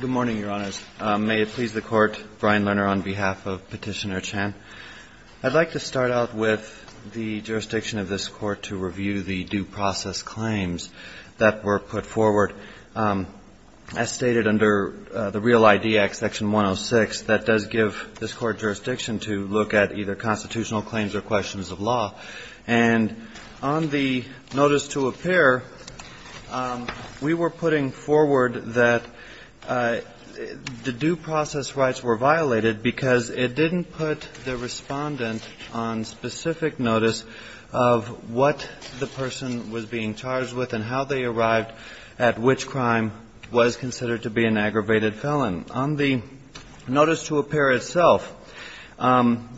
Good morning, Your Honors. May it please the Court, Brian Lerner on behalf of Petitioner Chan. I'd like to start out with the jurisdiction of this Court to review the due process claims that were put forward. As stated under the Real ID Act, Section 106, that does give this Court jurisdiction to look at either constitutional claims or questions of law. And on the notice to appear, we were putting forward that the due process rights were violated because it didn't put the respondent on specific notice of what the person was being charged with and how they arrived at which crime was considered to be an aggravated felon. On the notice to appear itself,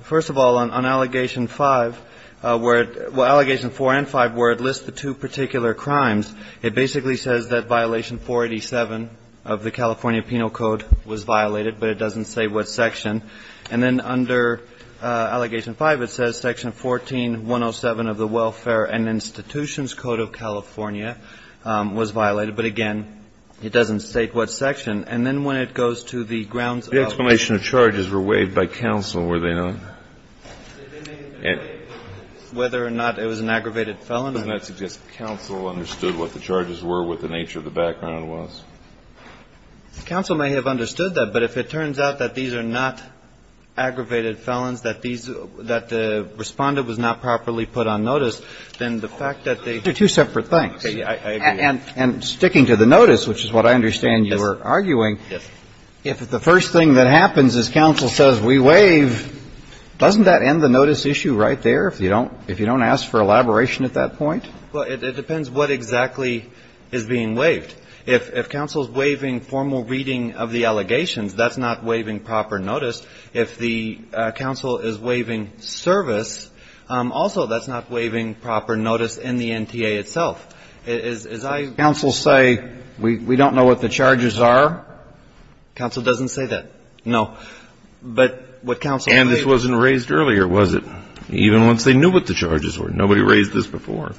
first of all, on Allegation 5, where it – well, Allegation 4 and 5, where it lists the two particular crimes, it basically says that Violation 487 of the California Penal Code was violated, but it doesn't say what section. And then under Allegation 5, it says Section 14107 of the Welfare and Institutions Code of California was violated, but again, it doesn't state what section. And then when it goes to the grounds of allegations. The explanation of charges were waived by counsel, were they not? Whether or not it was an aggravated felon. Doesn't that suggest counsel understood what the charges were, what the nature of the background was? Counsel may have understood that. But if it turns out that these are not aggravated felons, that these – that the respondent was not properly put on notice, then the fact that they – They're two separate things. I agree. And sticking to the notice, which is what I understand you were arguing. Yes. If the first thing that happens is counsel says we waive, doesn't that end the notice issue right there, if you don't – if you don't ask for elaboration at that point? Well, it depends what exactly is being waived. If counsel is waiving formal reading of the allegations, that's not waiving proper notice. If the counsel is waiving service, also that's not waiving proper notice in the NTA itself. As I – Counsel say we don't know what the charges are. Counsel doesn't say that. No. But what counsel – And this wasn't raised earlier, was it? Even once they knew what the charges were. Nobody raised this before.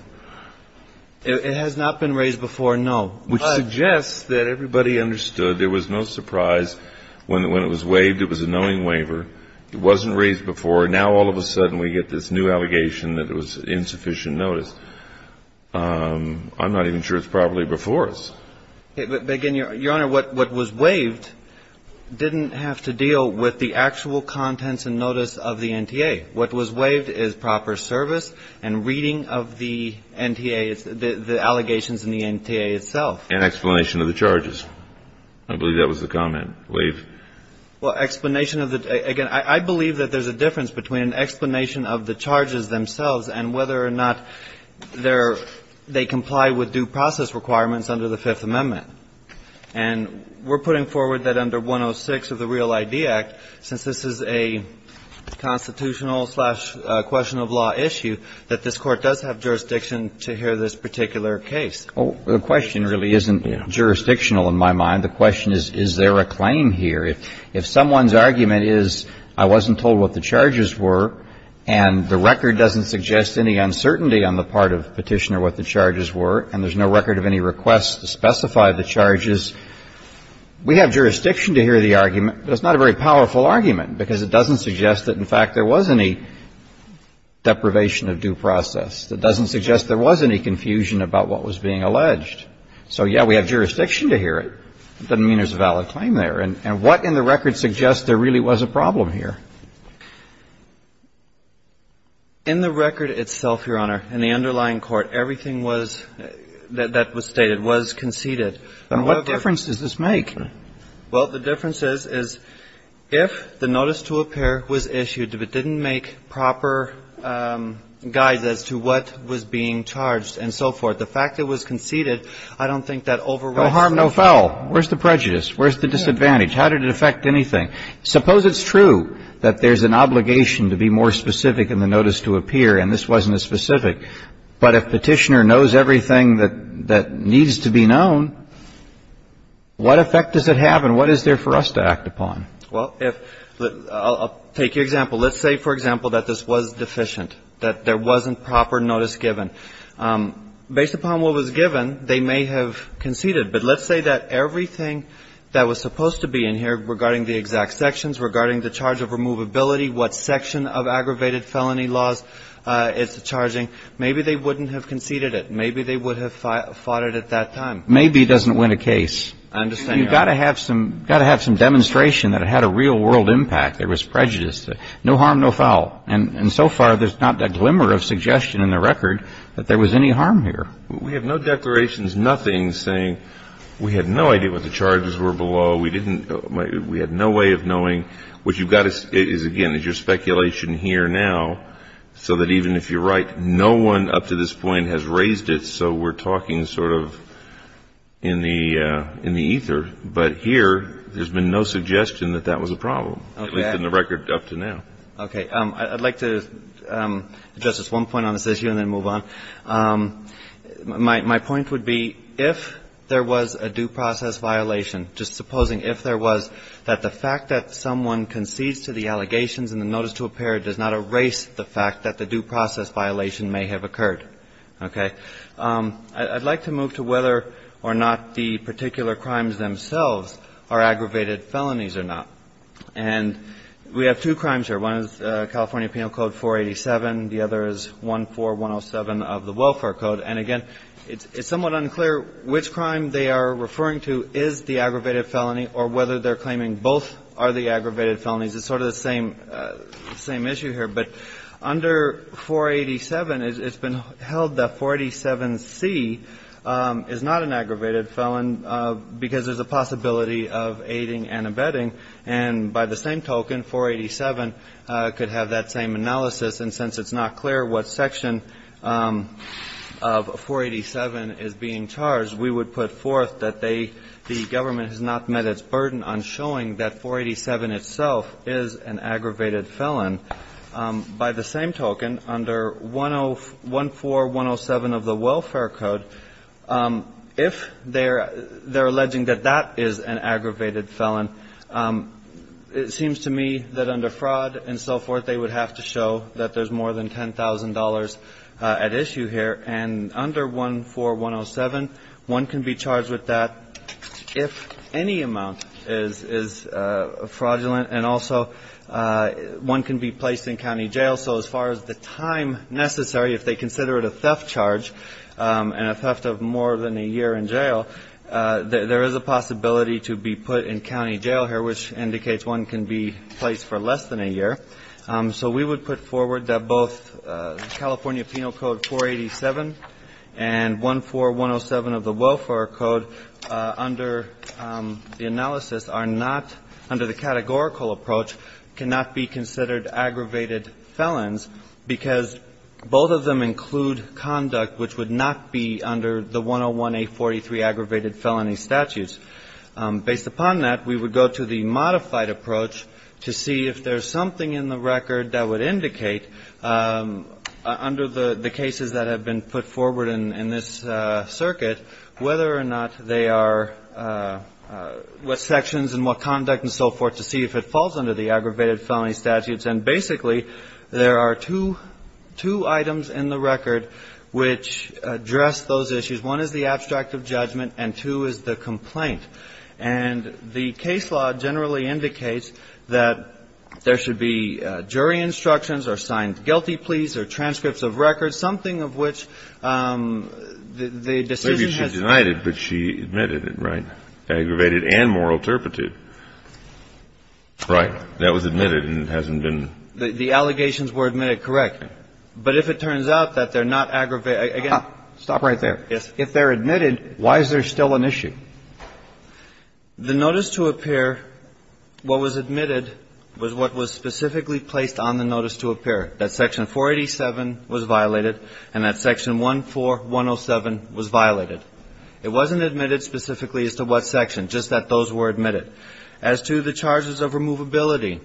It has not been raised before, no. But – Which suggests that everybody understood. There was no surprise when it was waived it was a knowing waiver. It wasn't raised before. Now all of a sudden we get this new allegation that it was insufficient notice. I'm not even sure it's properly before us. But, again, Your Honor, what was waived didn't have to deal with the actual contents and notice of the NTA. What was waived is proper service and reading of the NTA, the allegations in the NTA itself. And explanation of the charges. I believe that was the comment. Waive. Well, explanation of the – again, I believe that there's a difference between explanation of the charges themselves and whether or not they comply with due process requirements under the Fifth Amendment. And we're putting forward that under 106 of the Real ID Act, since this is a constitutional slash question of law issue, that this Court does have jurisdiction to hear this particular case. Well, the question really isn't jurisdictional in my mind. The question is, is there a claim here? If someone's argument is I wasn't told what the charges were and the record doesn't suggest any uncertainty on the part of Petitioner what the charges were, and there's no record of any request to specify the charges, we have jurisdiction to hear the argument. But it's not a very powerful argument, because it doesn't suggest that, in fact, there was any deprivation of due process. It doesn't suggest there was any confusion about what was being alleged. So, yeah, we have jurisdiction to hear it. It doesn't mean there's a valid claim there. And what in the record suggests there really was a problem here? In the record itself, Your Honor, in the underlying court, everything was that was stated, was conceded. And what difference does this make? Well, the difference is, is if the notice to appear was issued, if it didn't make proper guides as to what was being charged and so forth, the fact it was conceded, I don't think that overrides the fact. No harm, no foul. Where's the prejudice? Where's the disadvantage? How did it affect anything? Suppose it's true that there's an obligation to be more specific in the notice to appear, and this wasn't as specific. But if Petitioner knows everything that needs to be known, what effect does it have and what is there for us to act upon? Well, I'll take your example. Let's say, for example, that this was deficient, that there wasn't proper notice given. Based upon what was given, they may have conceded. But let's say that everything that was supposed to be in here regarding the exact sections, regarding the charge of removability, what section of aggravated felony laws it's charging, maybe they wouldn't have conceded it. Maybe they would have fought it at that time. Maybe doesn't win a case. I understand, Your Honor. You've got to have some demonstration that it had a real world impact. There was prejudice. No harm, no foul. And so far, there's not a glimmer of suggestion in the record that there was any harm here. We have no declarations, nothing saying we had no idea what the charges were below. We had no way of knowing. What you've got is, again, is your speculation here now, so that even if you're right, no one up to this point has raised it, so we're talking sort of in the ether. But here, there's been no suggestion that that was a problem, at least in the record up to now. Okay. I'd like to address just one point on this issue and then move on. My point would be, if there was a due process violation, just supposing if there was, that the fact that someone concedes to the allegations in the notice to appear does not erase the fact that the due process violation may have occurred. Okay. I'd like to move to whether or not the particular crimes themselves are aggravated felonies or not. And we have two crimes here. One is California Penal Code 487. The other is 14107 of the Welfare Code. And, again, it's somewhat unclear which crime they are referring to is the aggravated felony or whether they're claiming both are the aggravated felonies. It's sort of the same issue here. But under 487, it's been held that 487C is not an aggravated felon because there's a possibility of aiding and abetting. And by the same token, 487 could have that same analysis. And since it's not clear what section of 487 is being charged, we would put forth that they, the government has not met its burden on showing that 487 itself is an aggravated felon. By the same token, under 14107 of the Welfare Code, if they're alleging that that is an aggravated felon, it seems to me that under fraud and so forth, they would have to show that there's more than $10,000 at issue here. And under 14107, one can be charged with that if any amount is fraudulent. And also, one can be placed in county jail. So as far as the time necessary, if they consider it a theft charge and a theft of more than a year in jail, there is a possibility to be put in county jail here, which indicates one can be placed for less than a year. So we would put forward that both California Penal Code 487 and 14107 of the Welfare Code under the analysis are not, under the categorical approach, cannot be considered the 101-843 aggravated felony statutes. Based upon that, we would go to the modified approach to see if there's something in the record that would indicate, under the cases that have been put forward in this circuit, whether or not they are, what sections and what conduct and so forth to see if it falls under the aggravated felony statutes. And basically, there are two items in the record which address those issues. One is the abstract of judgment, and two is the complaint. And the case law generally indicates that there should be jury instructions or signed guilty pleas or transcripts of records, something of which the decision has been made. Kennedy, but she admitted it, right? Aggravated and moral turpitude. Right. That was admitted and hasn't been ---- The allegations were admitted, correct. But if it turns out that they're not aggravated ---- Stop right there. If they're admitted, why is there still an issue? The notice to appear, what was admitted was what was specifically placed on the notice to appear, that section 487 was violated and that section 14107 was violated. It wasn't admitted specifically as to what section, just that those were admitted. As to the charges of removability,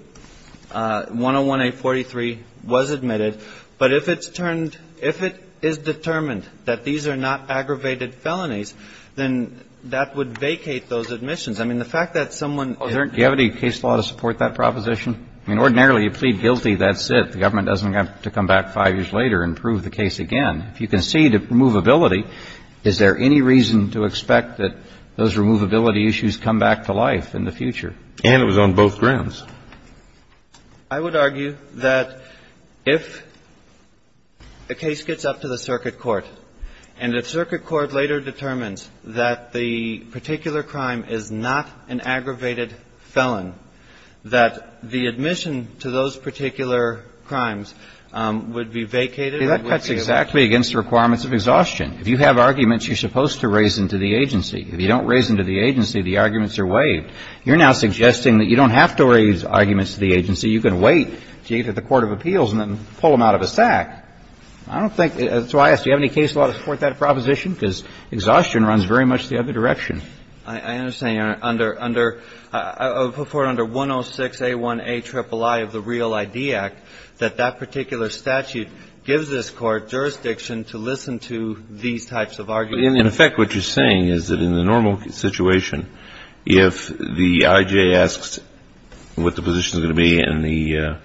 101-843 was admitted. But if it's turned ---- if it is determined that these are not aggravated felonies, then that would vacate those admissions. I mean, the fact that someone ---- Do you have any case law to support that proposition? I mean, ordinarily, you plead guilty, that's it. The government doesn't have to come back five years later and prove the case again. If you concede a removability, is there any reason to expect that those removability issues come back to life in the future? And it was on both grounds. I would argue that if a case gets up to the circuit court and the circuit court later determines that the particular crime is not an aggravated felon, that the admission to those particular crimes would be vacated, it would be able to ---- That's exactly against the requirements of exhaustion. If you have arguments you're supposed to raise them to the agency. If you don't raise them to the agency, the arguments are waived. You're now suggesting that you don't have to raise arguments to the agency. You can wait until you get to the court of appeals and then pull them out of a sack. I don't think ---- that's why I asked, do you have any case law to support that proposition? Because exhaustion runs very much the other direction. I understand, Your Honor, under ---- for under 106A1A triple I of the Real ID Act, that that particular statute gives this Court jurisdiction to listen to these types of arguments. In effect, what you're saying is that in the normal situation, if the I.J. asks what the position is going to be and the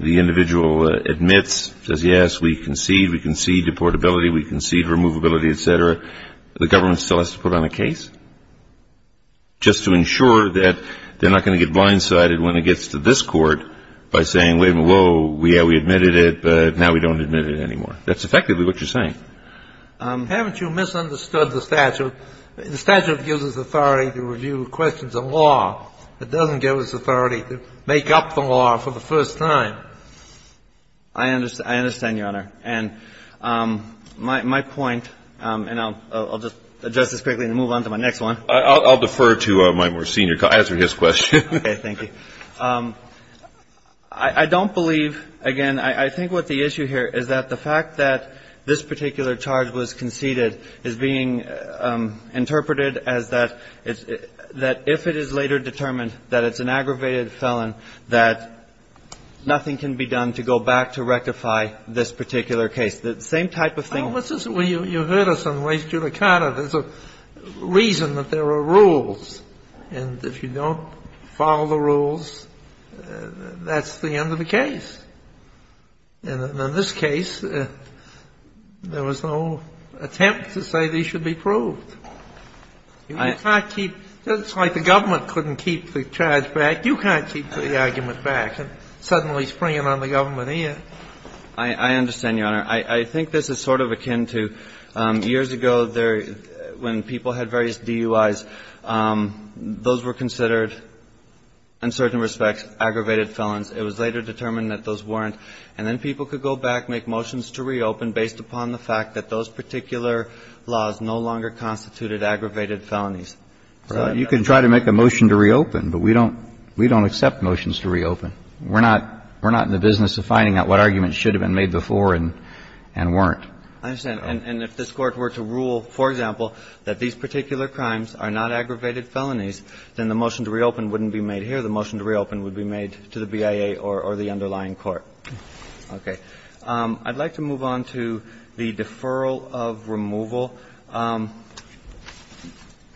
individual admits, says yes, we concede, we concede deportability, we concede removability, et cetera, the government still has to put on a case just to ensure that they're not going to get blindsided when it gets to this court by saying, whoa, yeah, we admitted it, but now we don't admit it anymore. That's effectively what you're saying. Haven't you misunderstood the statute? The statute gives us authority to review questions of law. It doesn't give us authority to make up the law for the first time. I understand, Your Honor. And my point, and I'll just adjust this quickly and move on to my next one. I'll defer to my more senior colleague. I'll answer his question. Okay. Thank you. I don't believe, again, I think what the issue here is that the fact that this particular charge was conceded is being interpreted as that if it is later determined that it's an aggravated felon, that nothing can be done to go back to rectify this particular case. The same type of thing. Well, you heard us on Lake Julicata. There's a reason that there are rules. And if you don't follow the rules, that's the end of the case. And in this case, there was no attempt to say these should be proved. You can't keep the government couldn't keep the charge back, you can't keep the argument back. Suddenly springing on the government here. I understand, Your Honor. I think this is sort of akin to years ago when people had various DUIs. Those were considered, in certain respects, aggravated felons. It was later determined that those weren't. And then people could go back, make motions to reopen based upon the fact that those particular laws no longer constituted aggravated felonies. You can try to make a motion to reopen, but we don't accept motions to reopen. We're not in the business of finding out what arguments should have been made before and weren't. I understand. And if this Court were to rule, for example, that these particular crimes are not aggravated felonies, then the motion to reopen wouldn't be made here. The motion to reopen would be made to the BIA or the underlying court. Okay. I'd like to move on to the deferral of removal.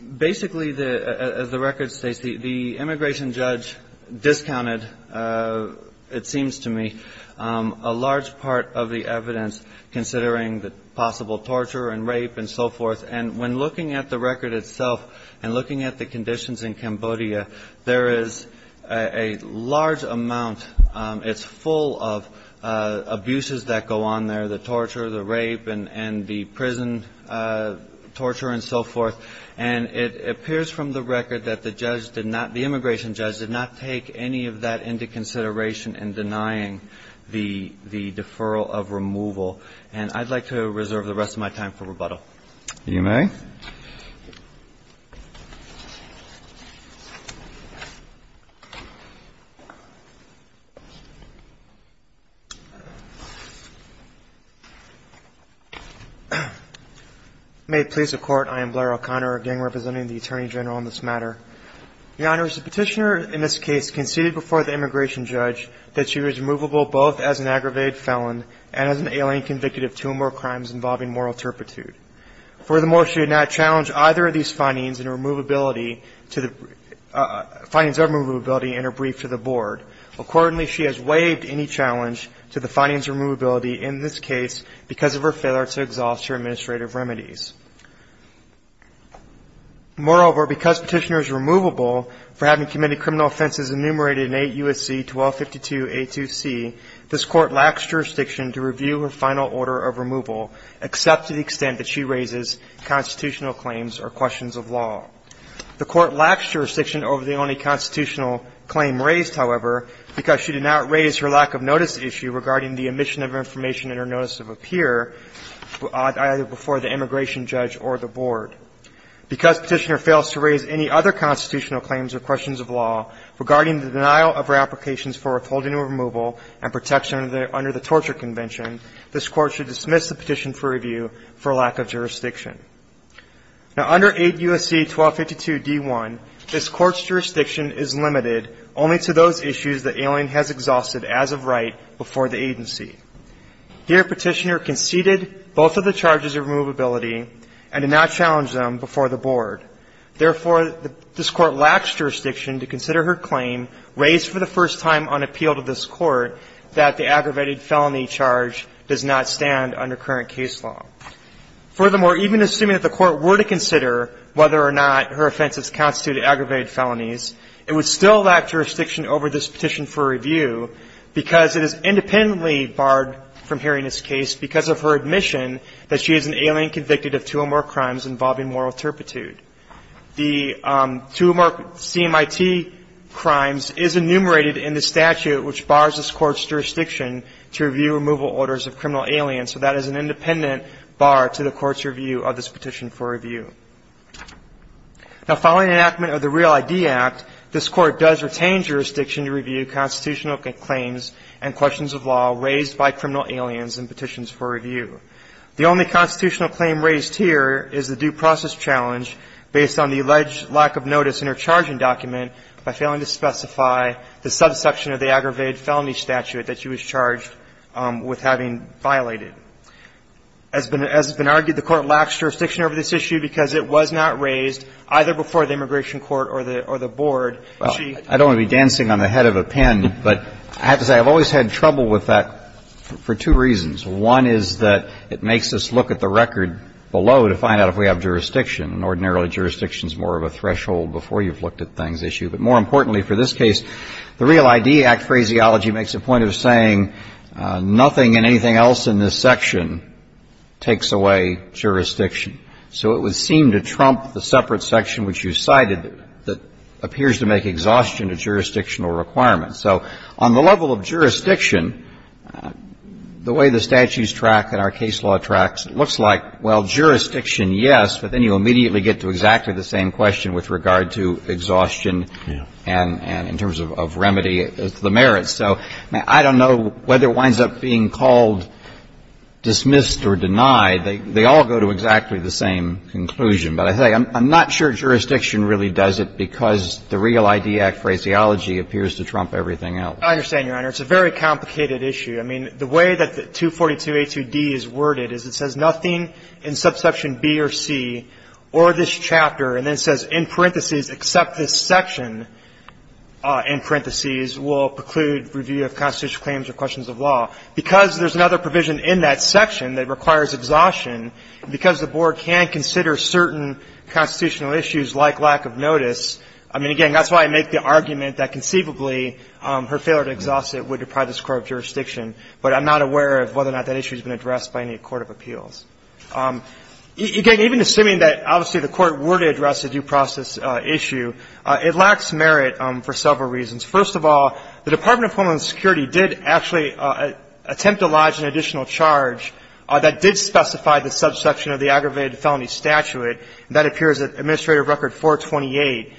Basically, as the record states, the immigration judge discounted, it seems to me, a large part of the evidence considering the possible torture and rape and so forth. And when looking at the record itself and looking at the conditions in Cambodia, there is a large amount, it's full of abuses that go on there, the torture, the rape, and the prison torture and so forth. And it appears from the record that the judge did not, the immigration judge did not take any of that into consideration in denying the deferral of removal. And I'd like to reserve the rest of my time for rebuttal. You may. May it please the Court. I am Blair O'Connor, again representing the Attorney General on this matter. Your Honors, the Petitioner in this case conceded before the immigration judge that she was removable both as an aggravated felon and as an alien convict of two or more crimes involving moral turpitude. Furthermore, she did not challenge either of these findings in her removability to the, findings of her removability in her brief to the Board. Accordingly, she has waived any challenge to the findings of her removability in this case because of her failure to exhaust her administrative remedies. Moreover, because Petitioner is removable for having committed criminal offenses enumerated in 8 U.S.C. 1252a2c, this Court lacks jurisdiction to review her final order of removal except to the extent that she raises constitutional claims or questions of law. The Court lacks jurisdiction over the only constitutional claim raised, however, because she did not raise her lack of notice issue regarding the omission of information in her notice of appear either before the immigration judge or the Board. Because Petitioner fails to raise any other constitutional claims or questions of law regarding the denial of her applications for withholding or removal and protection under the Torture Convention, this Court should dismiss the petition for review for lack of jurisdiction. Now, under 8 U.S.C. 1252d1, this Court's jurisdiction is limited only to those issues that Alien has exhausted as of right before the agency. Here, Petitioner conceded both of the charges of removability and did not challenge them before the Board. Therefore, this Court lacks jurisdiction to consider her claim raised for the first time on appeal to this Court that the aggravated felony charge does not stand under current case law. Furthermore, even assuming that the Court were to consider whether or not her offenses constituted aggravated felonies, it would still lack jurisdiction over this petition for review because it is independently barred from hearing this case because of her admission that she is an alien convicted of two or more crimes involving moral turpitude. The two or more CMIT crimes is enumerated in the statute which bars this Court's jurisdiction to review removal orders of criminal aliens, so that is an independent bar to the Court's review of this petition for review. Now, following enactment of the Real ID Act, this Court does retain jurisdiction to review constitutional claims and questions of law raised by criminal aliens in petitions for review. The only constitutional claim raised here is the due process challenge based on the alleged lack of notice in her charging document by failing to specify the subsection of the aggravated felony statute that she was charged with having violated. As has been argued, the Court lacks jurisdiction over this issue because it was not raised either before the Immigration Court or the Board. And she ---- Well, I don't want to be dancing on the head of a pen, but I have to say I've always had trouble with that for two reasons. One is that it makes us look at the record below to find out if we have jurisdiction. And ordinarily, jurisdiction is more of a threshold before you've looked at things issue. But more importantly for this case, the Real ID Act phraseology makes a point of saying nothing and anything else in this section takes away jurisdiction. So it would seem to trump the separate section which you cited that appears to make exhaustion a jurisdictional requirement. So on the level of jurisdiction, the way the statutes track and our case law tracks, it looks like, well, jurisdiction, yes, but then you immediately get to exactly the same question with regard to exhaustion and in terms of remedy, the merits. So I don't know whether it winds up being called dismissed or denied. They all go to exactly the same conclusion. But I tell you, I'm not sure jurisdiction really does it because the Real ID Act phraseology appears to trump everything else. I understand, Your Honor. It's a very complicated issue. I mean, the way that 242a2d is worded is it says nothing in subsection B or C or this chapter, and then it says in parentheses, except this section, in parentheses, will preclude review of constitutional claims or questions of law. Because there's another provision in that section that requires exhaustion, because the Board can consider certain constitutional issues like lack of notice I mean, again, that's why I make the argument that conceivably her failure to exhaust it would deprive this Court of jurisdiction. But I'm not aware of whether or not that issue has been addressed by any court of appeals. Again, even assuming that obviously the Court were to address a due process issue, it lacks merit for several reasons. First of all, the Department of Homeland Security did actually attempt to lodge an additional charge that did specify the subsection of the aggravated felony statute. And that appears in Administrative Record 428.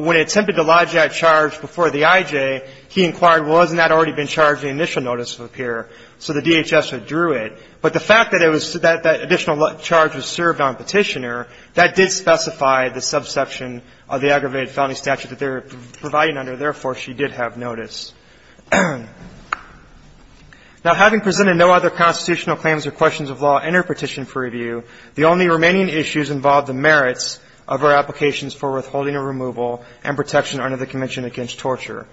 When it attempted to lodge that charge before the IJ, he inquired, well, hasn't that already been charged in the initial notice of appearance? So the DHS withdrew it. But the fact that it was that additional charge was served on Petitioner, that did specify the subsection of the aggravated felony statute that they were providing under. Therefore, she did have notice. Now, having presented no other constitutional claims or questions of law in her petition for review, the only remaining issues involved the merits of her applications for withholding or removal and protection under the Convention Against Torture.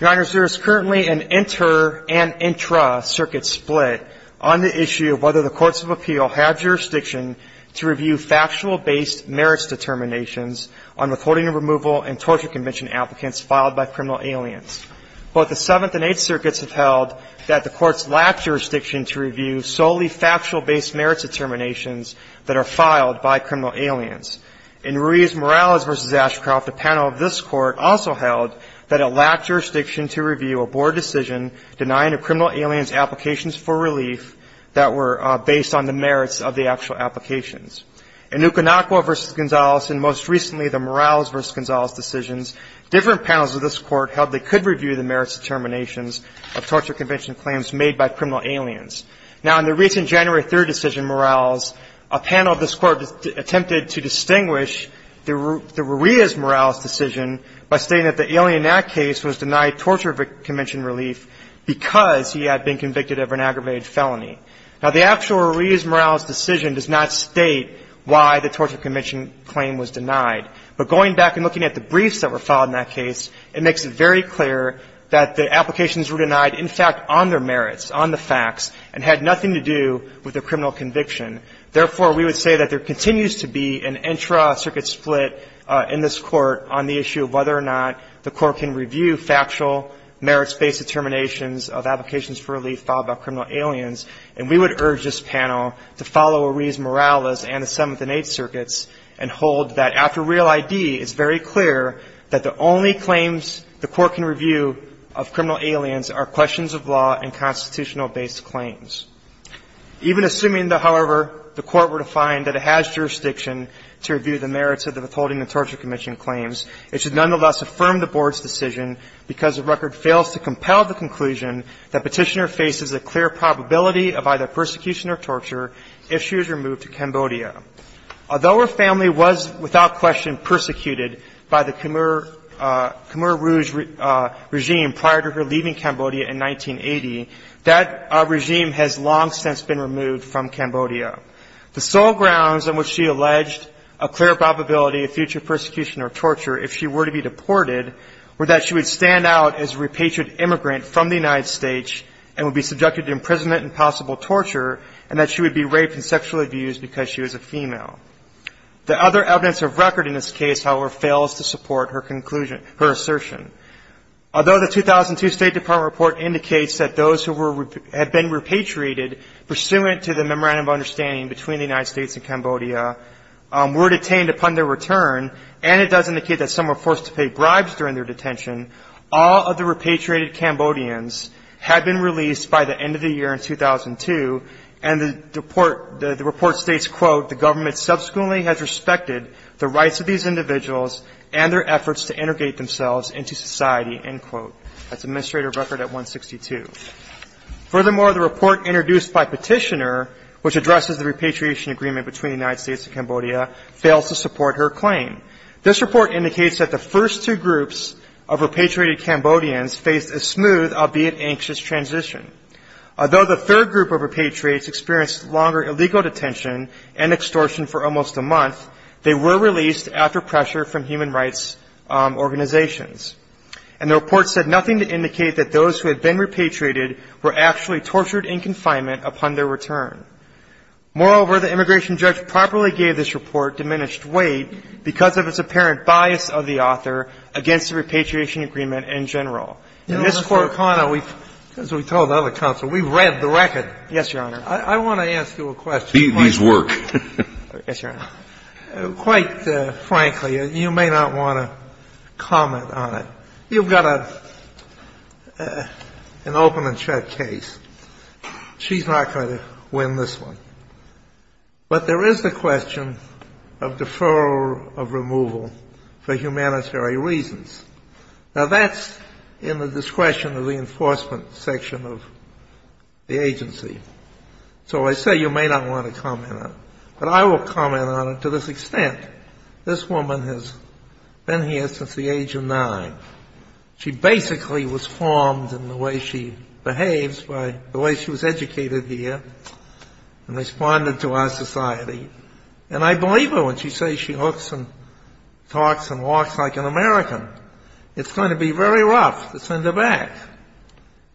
Your Honors, there is currently an inter- and intra-circuit split on the issue of whether the courts of appeal have jurisdiction to review factual-based merits determinations on withholding or removal and torture convention applicants filed by criminal aliens. Both the Seventh and Eighth Circuits have held that the courts lack jurisdiction to review solely factual-based merits determinations that are filed by criminal aliens. In Ruiz-Morales v. Ashcroft, a panel of this Court also held that it lacked jurisdiction to review a board decision denying a criminal alien's applications for relief that were based on the merits of the actual applications. In Okinawa v. Gonzales, and most recently the Morales v. Gonzales decisions, different panels of this Court held they could review the merits determinations of torture convention claims made by criminal aliens. Now, in the recent January 3 decision, Morales, a panel of this Court attempted to distinguish the Ruiz-Morales decision by stating that the alien in that case was denied torture convention relief because he had been convicted of an aggravated felony. Now, the actual Ruiz-Morales decision does not state why the torture convention claim was denied. But going back and looking at the briefs that were filed in that case, it makes very clear that the applications were denied, in fact, on their merits, on the facts, and had nothing to do with their criminal conviction. Therefore, we would say that there continues to be an intra-circuit split in this Court on the issue of whether or not the Court can review factual merits-based determinations of applications for relief filed by criminal aliens. And we would urge this panel to follow Ruiz-Morales and the Seventh and Eighth the Court can review of criminal aliens are questions of law and constitutional based claims. Even assuming, however, the Court were to find that it has jurisdiction to review the merits of the Withholding of Torture Commission claims, it should nonetheless affirm the Board's decision because the record fails to compel the conclusion that Petitioner faces a clear probability of either persecution or torture if she was removed to Cambodia. Although her family was without question persecuted by the Khmer Rouge regime prior to her leaving Cambodia in 1980, that regime has long since been removed from Cambodia. The sole grounds on which she alleged a clear probability of future persecution or torture if she were to be deported were that she would stand out as a repatriate immigrant from the United States and would be subjected to imprisonment and possible torture and that she would be raped and sexually abused because she was a female. The other evidence of record in this case, however, fails to support her assertion. Although the 2002 State Department report indicates that those who had been repatriated pursuant to the memorandum of understanding between the United States and Cambodia were detained upon their return and it does indicate that some were forced to pay bribes during their detention, all of the repatriated Cambodians had been released by the end of the year in 2002, and the report states, quote, the government subsequently has respected the rights of these individuals and their efforts to integrate themselves into society, end quote. That's Administrative Record at 162. Furthermore, the report introduced by Petitioner, which addresses the repatriation agreement between the United States and Cambodia, fails to support her claim. This report indicates that the first two groups of repatriated Cambodians faced a smooth, albeit anxious, transition. Although the third group of repatriates experienced longer illegal detention and extortion for almost a month, they were released after pressure from human rights organizations. And the report said nothing to indicate that those who had been repatriated were actually tortured in confinement upon their return. Moreover, the immigration judge properly gave this report diminished weight because of the fact that the first two groups of repatriated Cambodians had been released themselves into society, end quote. In this court, Conner, as we told other counsel, we read the record. Yes, Your Honor. I want to ask you a question. These work. Yes, Your Honor. It's in the discretion of the enforcement section of the agency. So I say you may not want to comment on it. But I will comment on it to this extent. This woman has been here since the age of 9. She basically was formed in the way she behaves by the way she was educated here and responded to our society. And I believe her when she says she looks and talks and walks like an American. It's going to be very rough to send her back.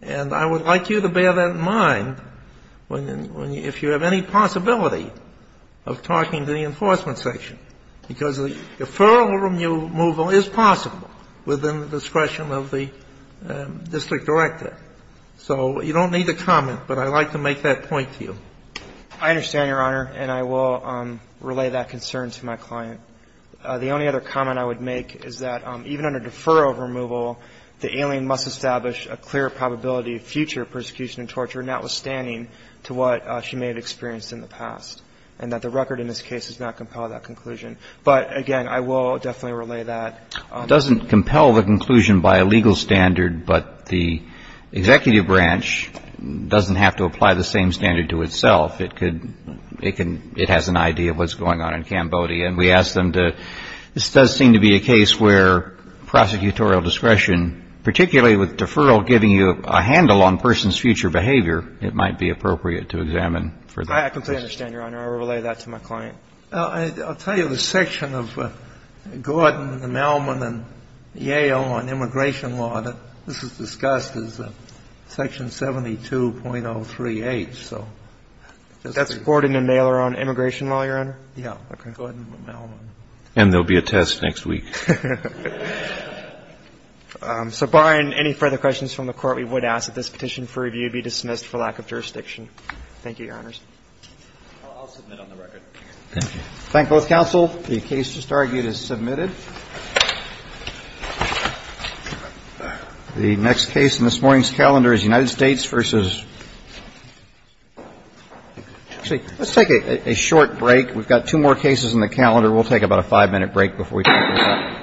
And I would like you to bear that in mind if you have any possibility of talking to the enforcement section. Because the referral removal is possible within the discretion of the district director. So you don't need to comment, but I'd like to make that point to you. I understand, Your Honor, and I will relay that concern to my client. The only other comment I would make is that even under deferral removal, the alien must establish a clear probability of future persecution and torture, notwithstanding to what she may have experienced in the past, and that the record in this case does not compel that conclusion. But, again, I will definitely relay that. It doesn't compel the conclusion by a legal standard, but the executive branch doesn't have to apply the same standard to itself. It has an idea of what's going on in Cambodia. And we ask them to – this does seem to be a case where prosecutorial discretion, particularly with deferral giving you a handle on a person's future behavior, it might be appropriate to examine for that. I completely understand, Your Honor. I will relay that to my client. I'll tell you the section of Gordon and Mailman and Yale on immigration law that this is discussed is section 72.03H. That's Gordon and Mailer on immigration law, Your Honor? Yeah. Gordon and Mailman. And there will be a test next week. So barring any further questions from the Court, we would ask that this petition for review be dismissed for lack of jurisdiction. Thank you, Your Honors. I'll submit on the record. Thank you. Thank both counsel. The case just argued is submitted. The next case in this morning's calendar is United States v. – let's take a short break. We've got two more cases in the calendar. We'll take about a five-minute break before we take this up.